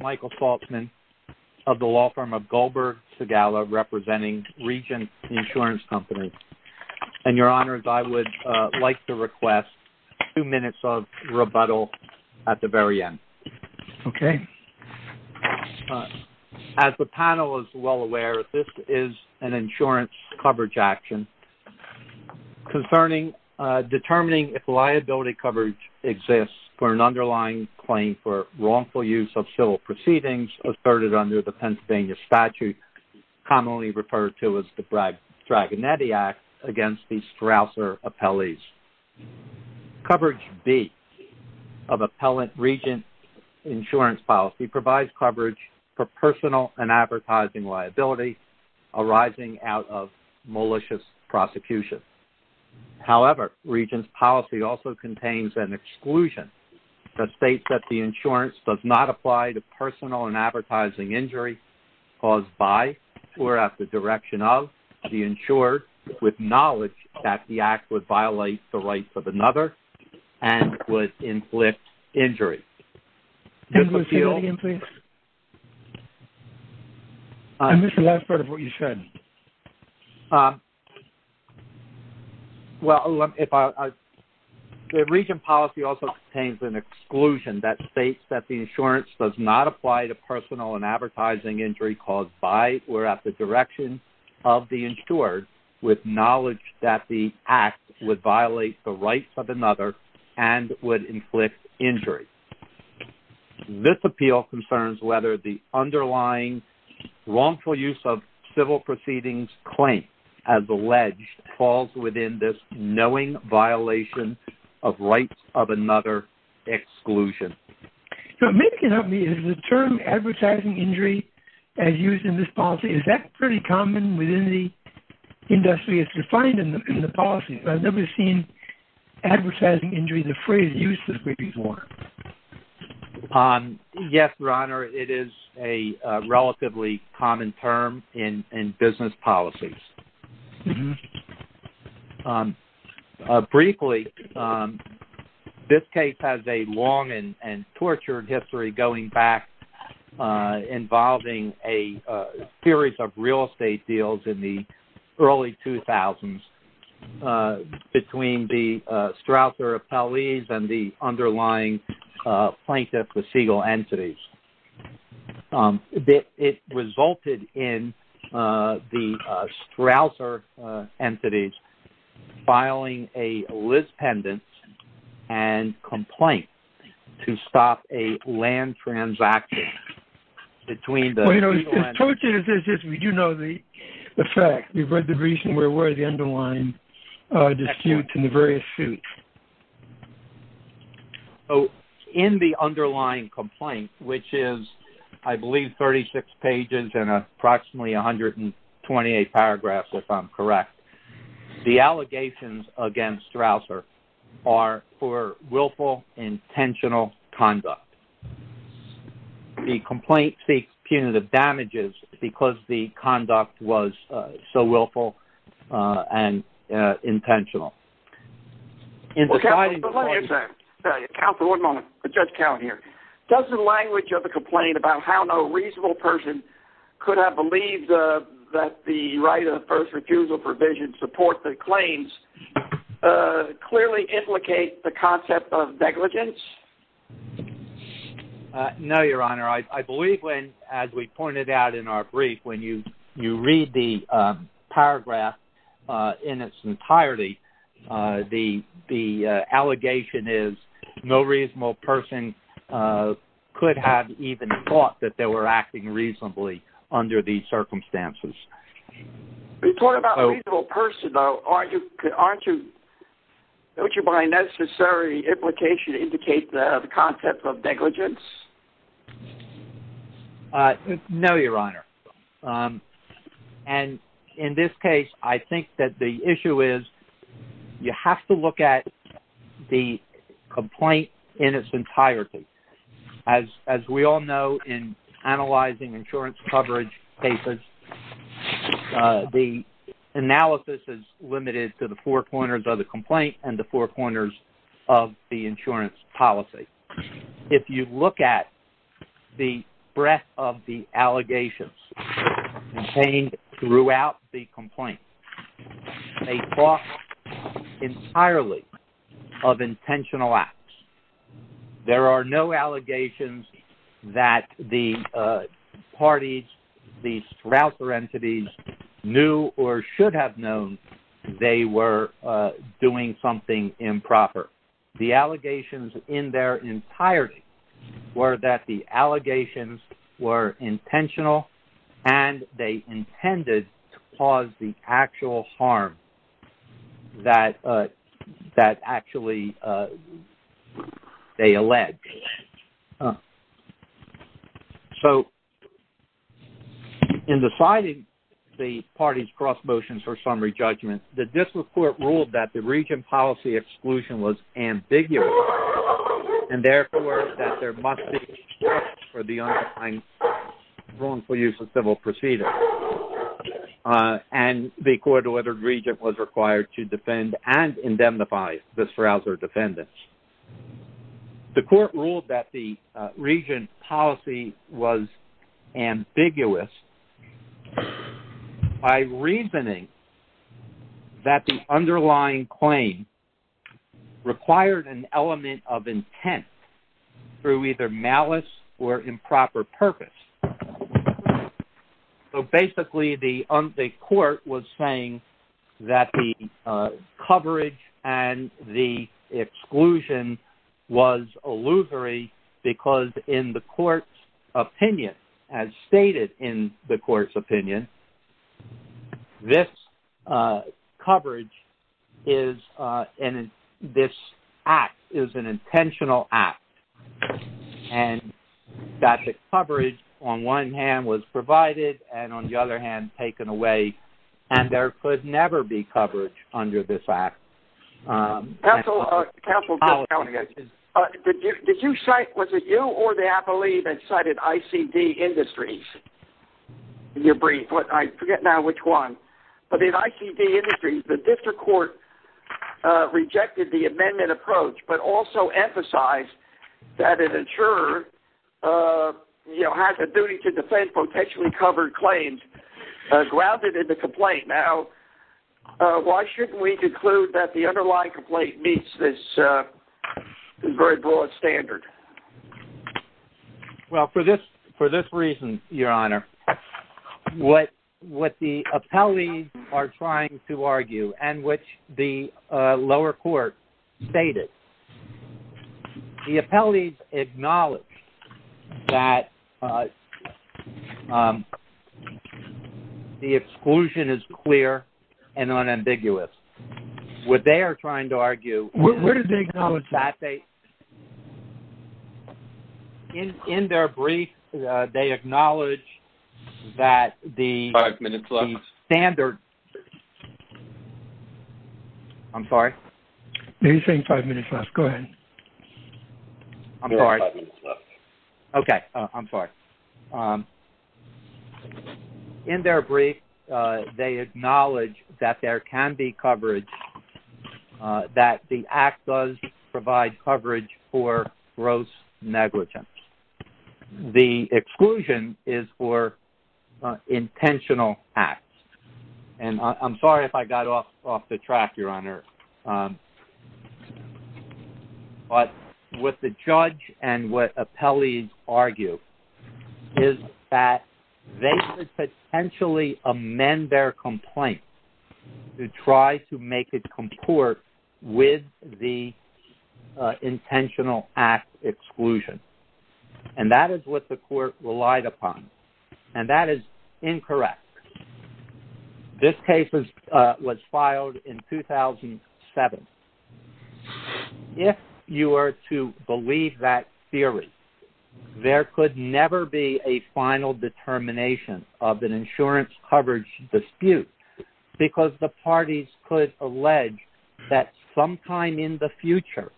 Michael Saltzman of the law firm of Goldberg Segala, representing Regent Insurance Company. And your honors, I would like to request two minutes of rebuttal at the very end. Okay. As the panel is well aware, this is an insurance coverage action concerning determining if liability coverage exists for an underlying claim for wrongful use of civil proceedings asserted under the Pennsylvania statute, commonly referred to as the Bragg-Tragonetti Act against the Strausser appellees. Coverage B of Appellant Regent Insurance Policy provides coverage for personal and advertising liability arising out of malicious prosecution. However, Regent's policy also contains an exclusion that states that the insurance does not apply to personal and advertising injury caused by or at the direction of the insurer with knowledge that the act would violate the rights of another and would inflict injury. Can you say that again, please? I missed the last part of what you said. Well, the Regent policy also contains an exclusion that states that the insurance does not apply to personal and advertising injury caused by or at the direction of the insurer with knowledge that the act would violate the rights of another and would inflict injury. This appeal concerns whether the underlying wrongful use of civil proceedings claim as alleged falls within this knowing violation of rights of another exclusion. Now, it may come up to me, is the term advertising injury as used in this policy, is that pretty common within the industry? It's defined in the policy, but I've never seen advertising injury, the phrase, used this way before. Yes, Your Honor, it is a relatively common term in business policies. Briefly, this case has a long and tortured history going back involving a series of real estate deals in the early 2000s between the Strouser Appellees and the underlying plaintiff with Segal Entities. It resulted in the Strouser Entities filing a lispendence and complaint to stop a land transaction between the Segal Entities and the underlying plaintiff with Segal Entities. Well, you know, the truth is we do know the facts. We've read the reason, we're aware of the underlying disputes and the various suits. In the underlying complaint, which is, I believe, 36 pages and approximately 128 paragraphs, if I'm correct, the allegations against Strouser are for willful, intentional conduct. The complaint seeks punitive damages because the conduct was so willful and intentional. Counsel, one moment. Judge Cowen here. Does the language of the complaint about how no reasonable person could have believed that the right of first refusal provision supports the claims clearly implicate the concept of negligence? No, Your Honor. I believe when, as we pointed out in our brief, when you read the paragraph in its entirety, the allegation is no reasonable person could have even thought that they were acting reasonably under these circumstances. When you talk about reasonable person, though, aren't you, don't you find necessary implication to indicate the concept of negligence? No, Your Honor. And in this case, I think that the issue is you have to look at the complaint in its entirety. As we all know in analyzing insurance coverage cases, the analysis is limited to the four corners of the complaint and the four corners of the insurance policy. If you look at the breadth of the allegations contained throughout the complaint, they talk entirely of intentional acts. There are no allegations that the parties, the Strouser entities, knew or should have known they were doing something improper. The allegations in their entirety were that the allegations were intentional and they intended to cause the actual harm that actually they allege. So, in deciding the parties' cross motions for summary judgment, the District Court ruled that the region policy exclusion was ambiguous and, therefore, that there must be justice for the underlying wrongful use of civil proceedings. And the court ordered the region was required to defend and indemnify the Strouser defendants. The court ruled that the region policy was ambiguous by reasoning that the underlying claim required an element of intent through either malice or improper purpose. So, basically, the court was saying that the coverage and the exclusion was illusory because in the court's opinion, as stated in the court's opinion, this coverage is an intentional act. And that the coverage, on one hand, was provided and, on the other hand, taken away and there could never be coverage under this act. Counsel, did you cite, was it you or the appellee that cited ICD Industries in your brief? I forget now which one. But in ICD Industries, the District Court rejected the amendment approach but also emphasized that an insurer has a duty to defend potentially covered claims grounded in the complaint. Now, why shouldn't we conclude that the underlying complaint meets this very broad standard? Well, for this reason, Your Honor, what the appellees are trying to argue and which the lower court stated, the appellees acknowledged that the exclusion is clear and unambiguous. What they are trying to argue… Where did they acknowledge that? In their brief, they acknowledge that the… Five minutes left. …standard… I'm sorry? No, you're saying five minutes left. Go ahead. I'm sorry. Okay, I'm sorry. In their brief, they acknowledge that there can be coverage, that the act does provide coverage for gross negligence. The exclusion is for intentional acts. And I'm sorry if I got off the track, Your Honor. But what the judge and what appellees argue is that they could potentially amend their complaint to try to make it comport with the intentional act exclusion. And that is what the court relied upon. And that is incorrect. This case was filed in 2007. If you were to believe that theory, there could never be a final determination of an insurance coverage dispute because the parties could allege that sometime in the future,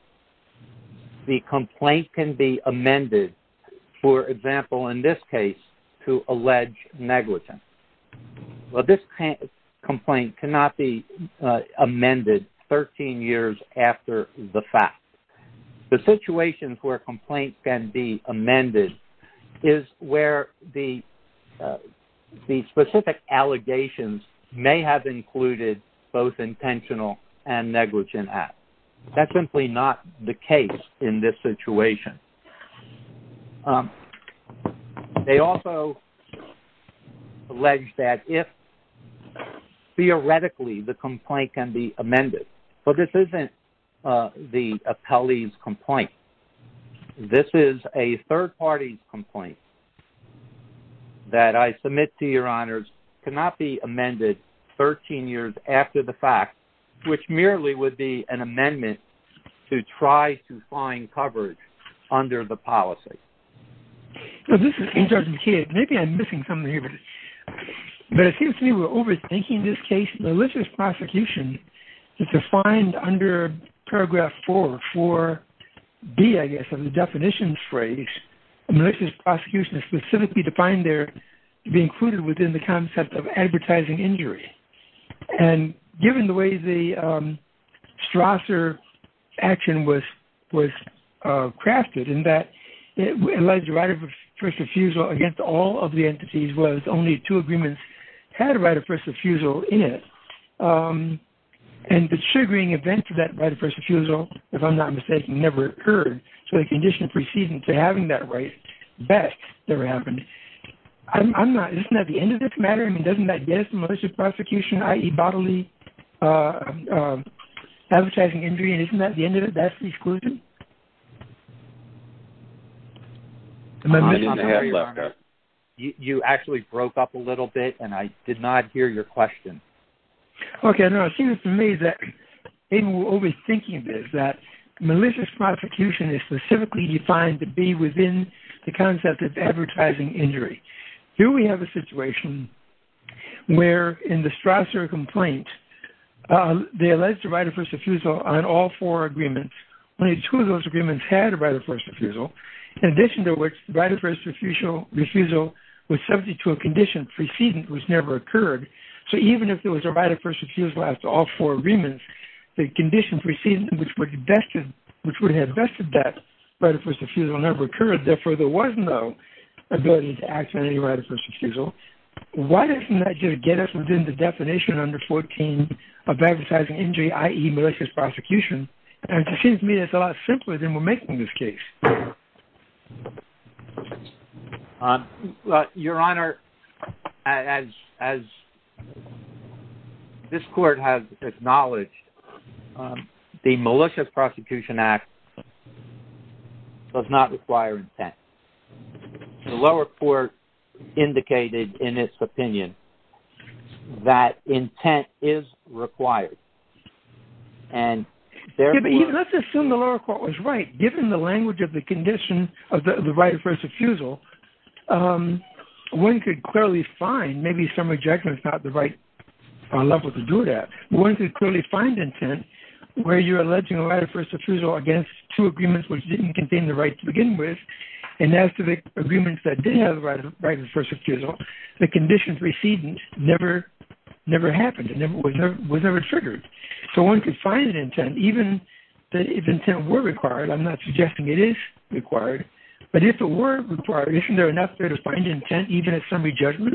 the complaint can be amended, for example, in this case, to allege negligence. Well, this complaint cannot be amended 13 years after the fact. The situation where a complaint can be amended is where the specific allegations may have included both intentional and negligent acts. That's simply not the case in this situation. They also allege that if theoretically the complaint can be amended, but this isn't the appellee's complaint. This is a third party's complaint that I submit to Your Honors cannot be amended 13 years after the fact, which merely would be an amendment to try to find coverage under the policy. Well, this is Intergent Kidd. Maybe I'm missing something here, but it seems to me we're overthinking this case. Malicious prosecution is defined under paragraph 4, 4B, I guess, of the definitions phrase. Malicious prosecution is specifically defined there to be included within the concept of advertising injury. Given the way the Strasser action was crafted in that it alleged right of first refusal against all of the entities was only two agreements had a right of first refusal in it. The triggering event of that right of first refusal, if I'm not mistaken, never occurred. So the condition preceding to having that right, that never happened. Isn't that the end of this matter? I mean, doesn't that get us to malicious prosecution, i.e. bodily advertising injury, and isn't that the end of it? That's the exclusion? You actually broke up a little bit, and I did not hear your question. Okay, I don't know. It seems to me that maybe we're overthinking this, that malicious prosecution is specifically defined to be within the concept of advertising injury. Here we have a situation where in the Strasser complaint, they alleged the right of first refusal on all four agreements. Only two of those agreements had a right of first refusal, in addition to which the right of first refusal was subject to a condition preceding which never occurred. So even if there was a right of first refusal after all four agreements, the condition preceding which would have vested that right of first refusal never occurred. Therefore, there was no ability to act on any right of first refusal. Why doesn't that get us within the definition under 14 of advertising injury, i.e. malicious prosecution? It seems to me that it's a lot simpler than we're making this case. Your Honor, as this court has acknowledged, the malicious prosecution act does not require intent. The lower court indicated in its opinion that intent is required. Let's assume the lower court was right. Given the language of the condition of the right of first refusal, one could clearly find, maybe some objection is not the right level to do that. One could clearly find intent where you're alleging a right of first refusal against two agreements which didn't contain the right to begin with. And as to the agreements that didn't have the right of first refusal, the condition preceding never happened. It was never triggered. So one could find an intent even if intent were required. I'm not suggesting it is required. But if it were required, isn't there enough there to find intent even at summary judgment?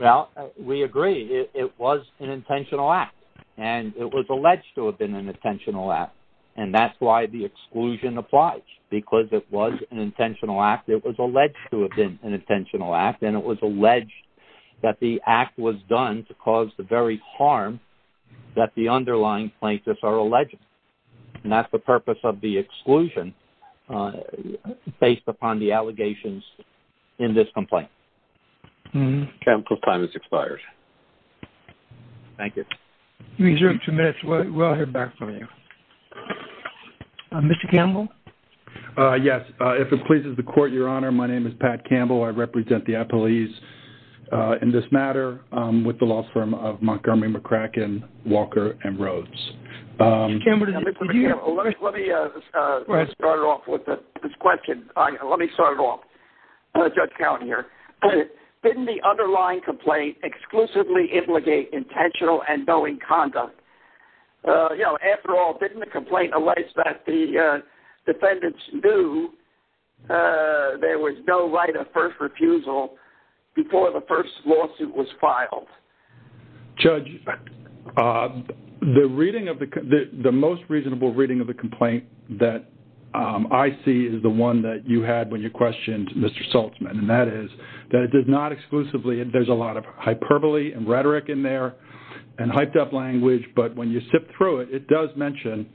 Well, we agree. It was an intentional act. And it was alleged to have been an intentional act. And that's why the exclusion applies. Because it was an intentional act. It was alleged to have been an intentional act. And it was alleged that the act was done to cause the very harm that the underlying plaintiffs are alleging. And that's the purpose of the exclusion based upon the allegations in this complaint. Counsel, time has expired. Thank you. We reserve two minutes. We'll hear back from you. Mr. Campbell? Yes. If it pleases the Court, Your Honor, my name is Pat Campbell. I represent the appellees in this matter with the law firm of Montgomery, McCracken, Walker, and Rhodes. Mr. Campbell, did you have a question? Let me start off with this question. Let me start it off. Judge Cowan here. Didn't the underlying complaint exclusively implicate intentional and knowing conduct? You know, after all, didn't the complaint allege that the defendants knew there was no right of first refusal before the first lawsuit was filed? Judge, the reading of the—the most reasonable reading of the complaint that I see is the one that you had when you questioned Mr. Sulzman. And that is that it did not exclusively—there's a lot of hyperbole and rhetoric in there and hyped-up language, but when you sift through it, it does mention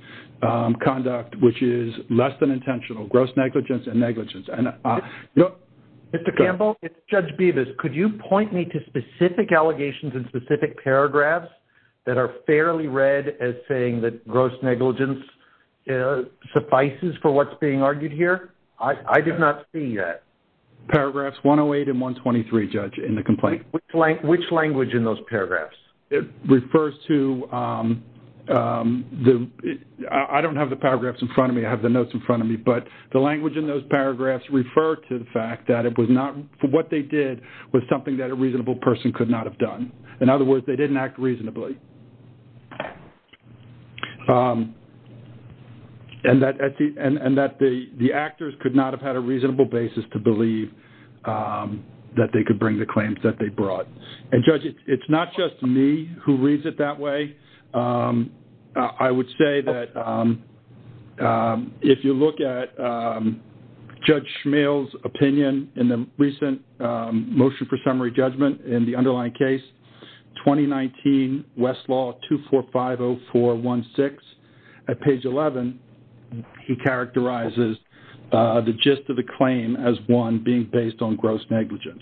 conduct which is less than intentional, gross negligence, and negligence. Mr. Campbell, it's Judge Bevis. Could you point me to specific allegations in specific paragraphs that are fairly read as saying that gross negligence suffices for what's being argued here? I did not see that. Paragraphs 108 and 123, Judge, in the complaint. Which language in those paragraphs? It refers to the—I don't have the paragraphs in front of me. I have the notes in front of me. But the language in those paragraphs refer to the fact that it was not—what they did was something that a reasonable person could not have done. In other words, they didn't act reasonably. And that the actors could not have had a reasonable basis to believe that they could bring the claims that they brought. And, Judge, it's not just me who reads it that way. I would say that if you look at Judge Schmeal's opinion in the recent motion for summary judgment in the underlying case, 2019 Westlaw 2450416, at page 11, he characterizes the gist of the claim as one being based on gross negligence.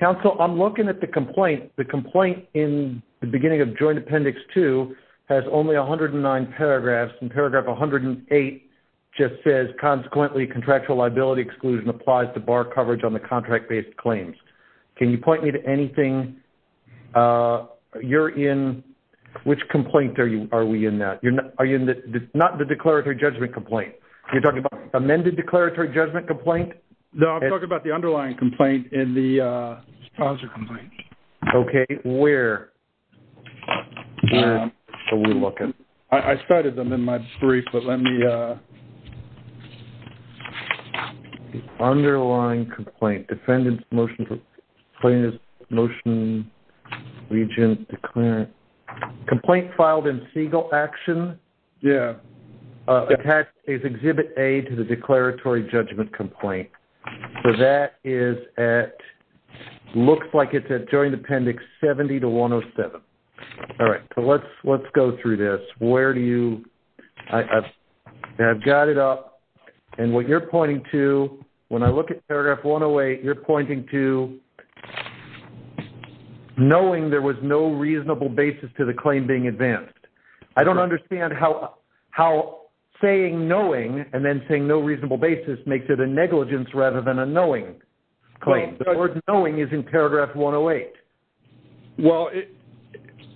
Counsel, I'm looking at the complaint. The complaint in the beginning of Joint Appendix 2 has only 109 paragraphs. And paragraph 108 just says, consequently, contractual liability exclusion applies to bar coverage on the contract-based claims. Can you point me to anything you're in? Which complaint are we in now? Are you in the—not the declaratory judgment complaint. You're talking about amended declaratory judgment complaint? No, I'm talking about the underlying complaint in the sponsor complaint. Okay. Where? Where are we looking? I cited them in my brief, but let me— Underlying complaint. Defendant's motion for plaintiff's motion, regent's declarant. Complaint filed in Segal Action. Yeah. Attached is Exhibit A to the declaratory judgment complaint. So that is at—looks like it's at Joint Appendix 70 to 107. All right. So let's go through this. Where do you—I've got it up. And what you're pointing to, when I look at paragraph 108, you're pointing to knowing there was no reasonable basis to the claim being advanced. I don't understand how saying knowing and then saying no reasonable basis makes it a negligence rather than a knowing claim. The word knowing is in paragraph 108. Well,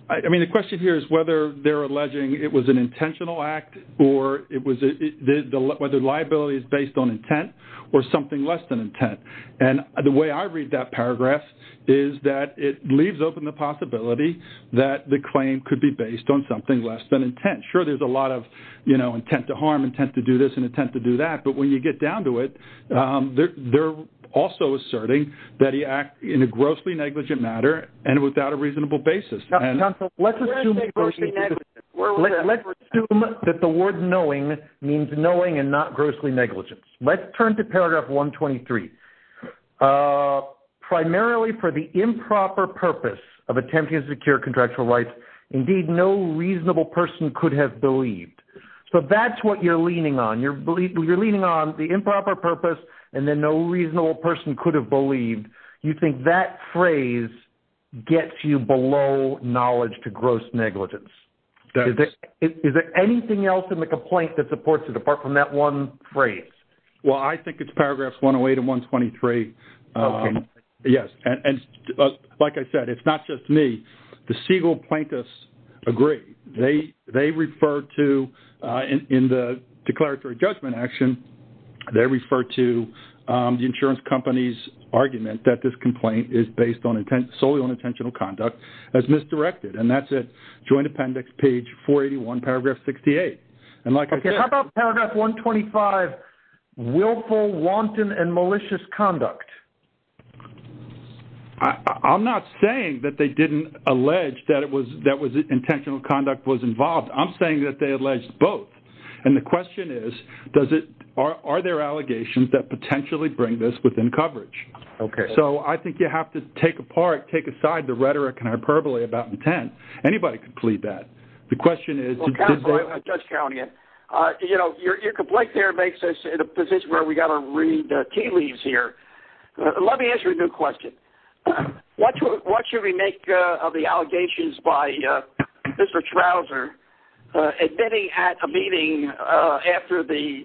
I mean, the question here is whether they're alleging it was an intentional act or it was—whether liability is based on intent or something less than intent. And the way I read that paragraph is that it leaves open the possibility that the claim could be based on something less than intent. Sure, there's a lot of, you know, intent to harm, intent to do this, and intent to do that. But when you get down to it, they're also asserting that he acted in a grossly negligent matter and without a reasonable basis. And— Where is grossly negligent? Let's assume that the word knowing means knowing and not grossly negligent. Let's turn to paragraph 123. Primarily for the improper purpose of attempting to secure contractual rights, indeed, no reasonable person could have believed. So that's what you're leaning on. You're leaning on the improper purpose and then no reasonable person could have believed. You think that phrase gets you below knowledge to gross negligence. Is there anything else in the complaint that supports it apart from that one phrase? Well, I think it's paragraphs 108 and 123. Okay. Yes. And like I said, it's not just me. The Siegel plaintiffs agree. They refer to, in the declaratory judgment action, they refer to the insurance company's argument that this complaint is based solely on intentional conduct as misdirected. And that's at Joint Appendix page 481, paragraph 68. Okay. How about paragraph 125, willful, wanton, and malicious conduct? I'm not saying that they didn't allege that intentional conduct was involved. I'm saying that they alleged both. And the question is, are there allegations that potentially bring this within coverage? Okay. So I think you have to take apart, take aside the rhetoric and hyperbole about intent. Anybody could plead that. The question is- Well, counsel, I'm just counting it. You know, your complaint there makes us in a position where we've got to read tea leaves here. Let me ask you a new question. What should we make of the allegations by Mr. Schrauser admitting at a meeting after the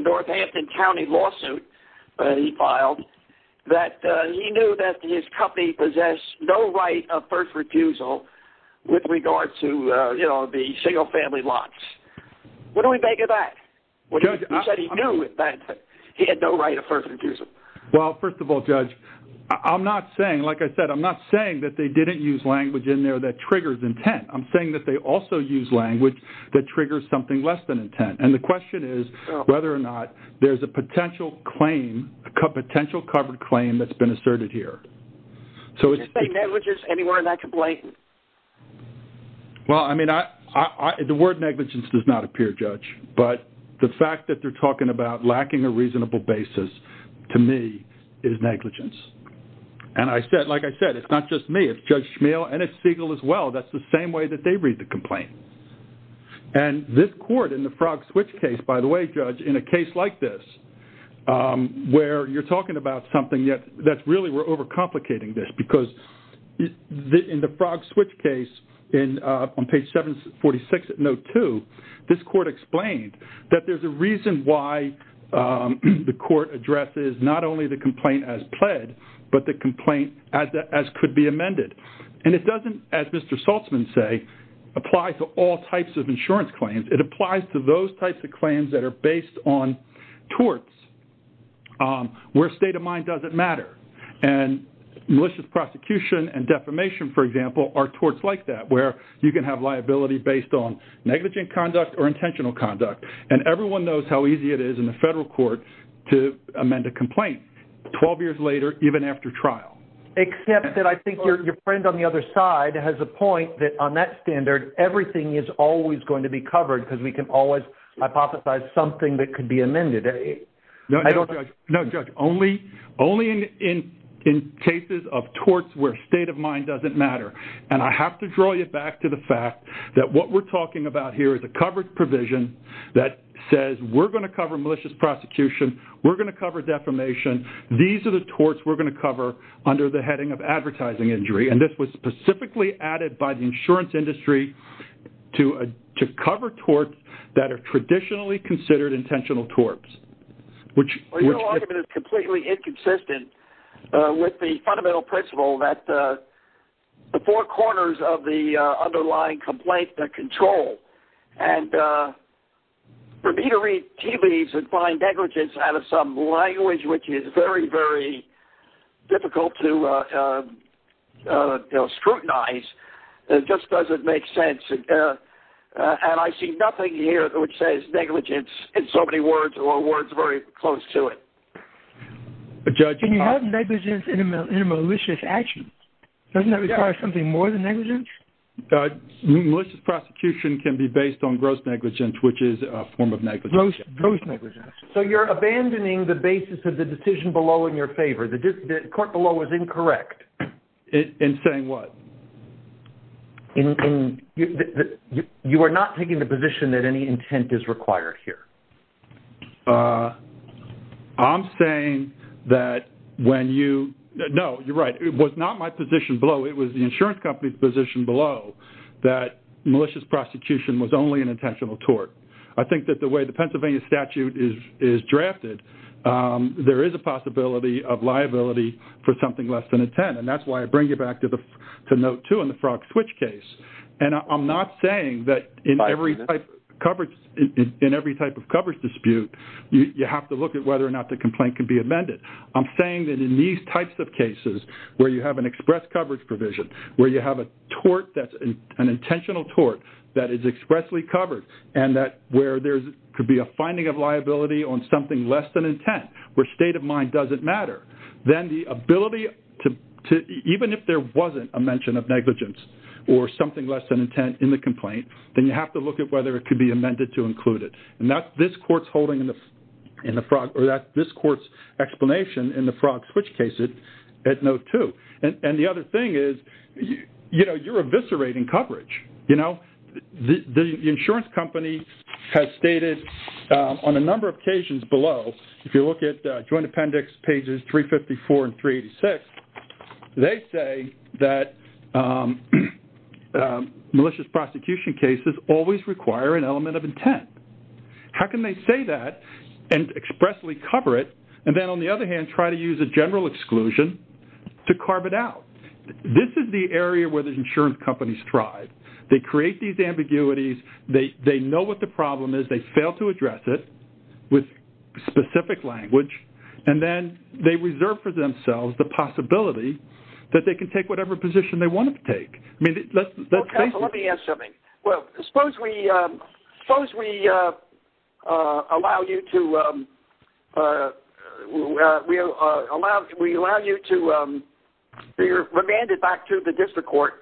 Northampton County lawsuit he filed that he knew that his company possessed no right of first refusal with regard to, you know, the single-family lots? What do we make of that? You said he knew that he had no right of first refusal. Well, first of all, Judge, I'm not saying, like I said, I'm not saying that they didn't use language in there that triggers intent. I'm saying that they also used language that triggers something less than intent. And the question is whether or not there's a potential claim, a potential covered claim that's been asserted here. So it's- Did you say negligence anywhere in that complaint? Well, I mean, the word negligence does not appear, Judge. But the fact that they're talking about lacking a reasonable basis, to me, is negligence. And I said, like I said, it's not just me. It's Judge Schmeal and it's Siegel as well. That's the same way that they read the complaint. And this court in the Frog Switch case, by the way, Judge, in a case like this where you're talking about something that's really- we're overcomplicating this because in the Frog Switch case on page 746 of note 2, this court explained that there's a reason why the court addresses not only the complaint as pled, but the complaint as could be amended. And it doesn't, as Mr. Saltzman said, apply to all types of insurance claims. It applies to those types of claims that are based on torts, where state of mind doesn't matter. And malicious prosecution and defamation, for example, are torts like that, where you can have liability based on negligent conduct or intentional conduct. And everyone knows how easy it is in the federal court to amend a complaint 12 years later, even after trial. Except that I think your friend on the other side has a point that on that standard, everything is always going to be covered because we can always hypothesize something that could be amended. No, Judge, only in cases of torts where state of mind doesn't matter. And I have to draw you back to the fact that what we're talking about here is a covered provision that says we're going to cover malicious prosecution, we're going to cover defamation. These are the torts we're going to cover under the heading of advertising injury. And this was specifically added by the insurance industry to cover torts that are traditionally considered intentional torts. Your argument is completely inconsistent with the fundamental principle that the four corners of the underlying complaint, And for me to read tea leaves and find negligence out of some language which is very, very difficult to scrutinize, it just doesn't make sense. And I see nothing here which says negligence in so many words or words very close to it. Judge, can you have negligence in a malicious action? Doesn't that require something more than negligence? Malicious prosecution can be based on gross negligence, which is a form of negligence. Gross negligence. So you're abandoning the basis of the decision below in your favor. The court below is incorrect. In saying what? You are not taking the position that any intent is required here. I'm saying that when you... No, you're right. It was not my position below. It was the insurance company's position below that malicious prosecution was only an intentional tort. I think that the way the Pennsylvania statute is drafted, there is a possibility of liability for something less than intent. And that's why I bring you back to note two in the Frog Switch case. And I'm not saying that in every type of coverage dispute, you have to look at whether or not the complaint can be amended. I'm saying that in these types of cases, where you have an express coverage provision, where you have an intentional tort that is expressly covered, and where there could be a finding of liability on something less than intent, where state of mind doesn't matter, then the ability to... Even if there wasn't a mention of negligence or something less than intent in the complaint, then you have to look at whether it could be amended to include it. And that's this court's holding in the Frog... Or that's this court's explanation in the Frog Switch case at note two. And the other thing is, you know, you're eviscerating coverage, you know. The insurance company has stated on a number of occasions below, if you look at Joint Appendix pages 354 and 386, they say that malicious prosecution cases always require an element of intent. How can they say that and expressly cover it, and then on the other hand try to use a general exclusion to carve it out? This is the area where the insurance companies thrive. They create these ambiguities. They know what the problem is. They fail to address it with specific language. And then they reserve for themselves the possibility that they can take whatever position they want to take. I mean, let's face it. Well, counsel, let me ask something. Well, suppose we allow you to be remanded back to the district court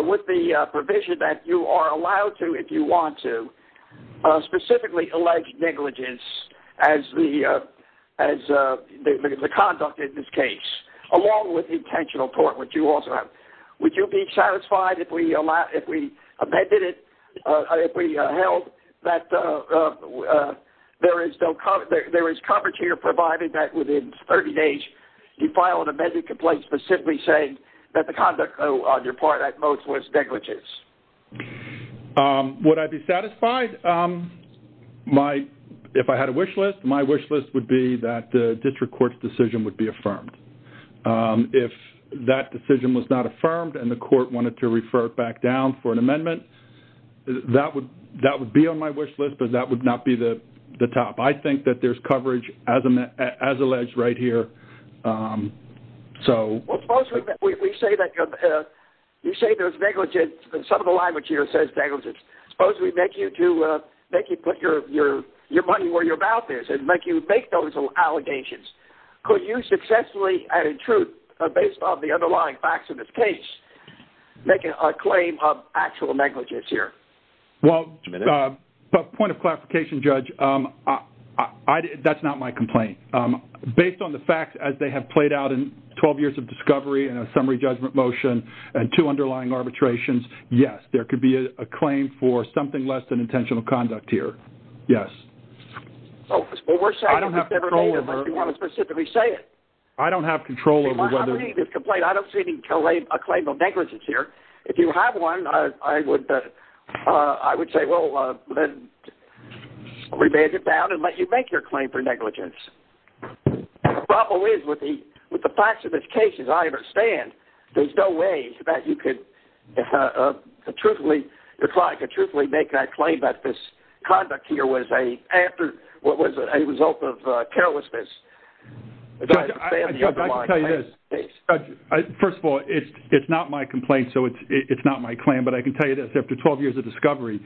with the provision that you are allowed to, if you want to, specifically allege negligence as the conduct in this case, along with intentional tort, which you also have. Would you be satisfied if we amended it, if we held that there is coverage here provided that within 30 days you file an amended complaint specifically saying that the conduct on your part at most was negligence? Would I be satisfied? If I had a wish list, my wish list would be that the district court's decision would be affirmed. If that decision was not affirmed and the court wanted to refer it back down for an amendment, that would be on my wish list, but that would not be the top. I think that there is coverage as alleged right here. Well, suppose we say that you say there's negligence, and some of the language here says negligence. Suppose we make you put your money where your mouth is and make you make those allegations. Could you successfully, and in truth, based on the underlying facts of this case, make a claim of actual negligence here? Well, point of clarification, Judge, that's not my complaint. Based on the facts as they have played out in 12 years of discovery and a summary judgment motion and two underlying arbitrations, yes, there could be a claim for something less than intentional conduct here. Yes. I don't have control over it. Unless you want to specifically say it. I don't have control over whether... Well, how do you make this complaint? I don't see a claim of negligence here. If you have one, I would say, well, then revenge it down and let you make your claim for negligence. The problem is with the facts of this case, as I understand, there's no way that you could truthfully make that claim that this conduct here was a result of carelessness. Judge, I can tell you this. First of all, it's not my complaint. So it's not my claim. But I can tell you this. After 12 years of discovery,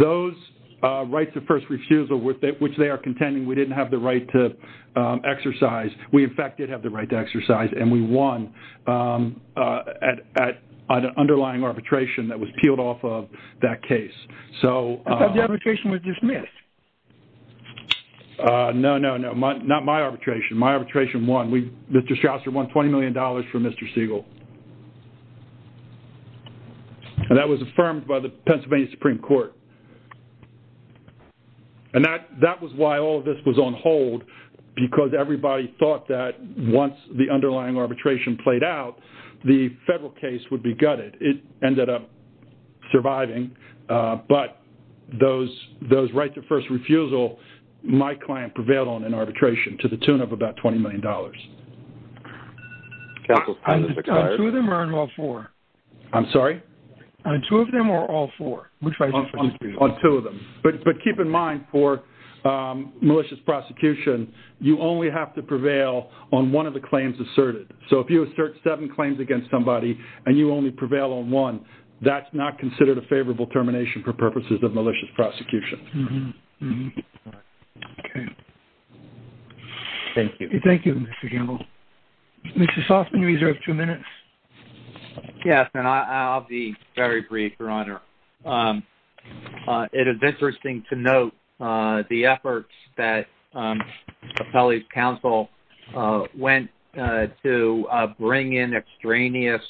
those rights of first refusal, which they are contending we didn't have the right to exercise, we, in fact, did have the right to exercise, and we won at an underlying arbitration that was peeled off of that case. So... I thought the arbitration was dismissed. No, no, no. Not my arbitration. My arbitration won. Mr. Shouser won $20 million for Mr. Siegel. And that was affirmed by the Pennsylvania Supreme Court. And that was why all of this was on hold, because everybody thought that once the underlying arbitration played out, the federal case would be gutted. It ended up surviving. But those rights of first refusal, my client prevailed on in arbitration to the tune of about $20 million. Counsel's time has expired. On two of them or on all four? I'm sorry? On two of them or all four? On two of them. But keep in mind, for malicious prosecution, you only have to prevail on one of the claims asserted. So if you assert seven claims against somebody and you only prevail on one, that's not considered a favorable termination for purposes of malicious prosecution. Okay. Thank you. Thank you, Mr. Gamble. Mr. Softman, you reserve two minutes. Yes. And I'll be very brief, Your Honor. It is interesting to note the efforts that Appellee's Counsel went to bring in extraneous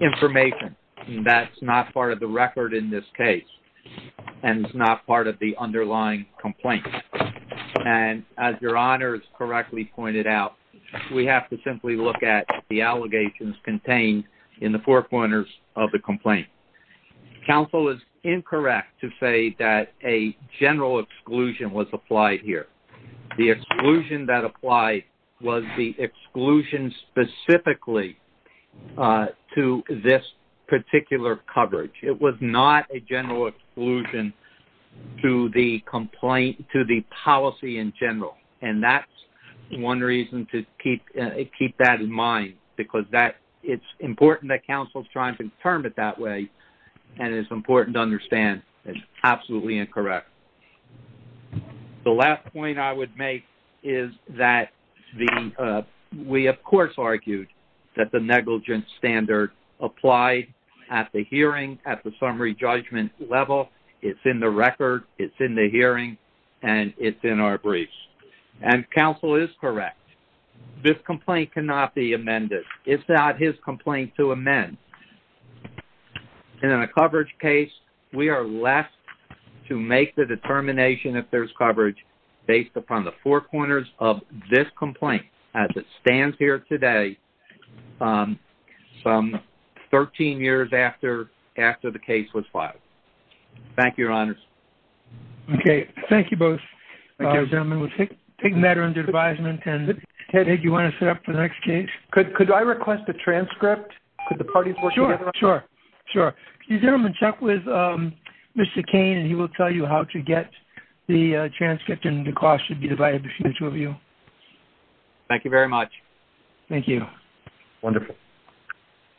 information. That's not part of the record in this case. And it's not part of the underlying complaint. And as Your Honor has correctly pointed out, we have to simply look at the allegations contained in the four corners of the complaint. Counsel is incorrect to say that a general exclusion was applied here. The exclusion that applied was the exclusion specifically to this particular coverage. It was not a general exclusion to the policy in general. And that's one reason to keep that in mind, because it's important that counsel is trying to determine it that way, and it's important to understand it's absolutely incorrect. The last point I would make is that we, of course, have argued that the negligence standard applied at the hearing, at the summary judgment level. It's in the record. It's in the hearing. And it's in our briefs. And counsel is correct. This complaint cannot be amended. It's not his complaint to amend. And in a coverage case, we are left to make the determination if there's coverage based upon the four corners of this complaint as it stands here today, some 13 years after the case was filed. Thank you, Your Honors. Okay. Thank you both, gentlemen. We'll take a matter under advisement. And, Ted, do you want to set up the next case? Could I request a transcript? Could the parties work together? Sure. Sure. Could you gentlemen check with Mr. Cain, and he will tell you how to get the transcript, and the cost should be divided between the two of you. Thank you very much. Thank you. Wonderful.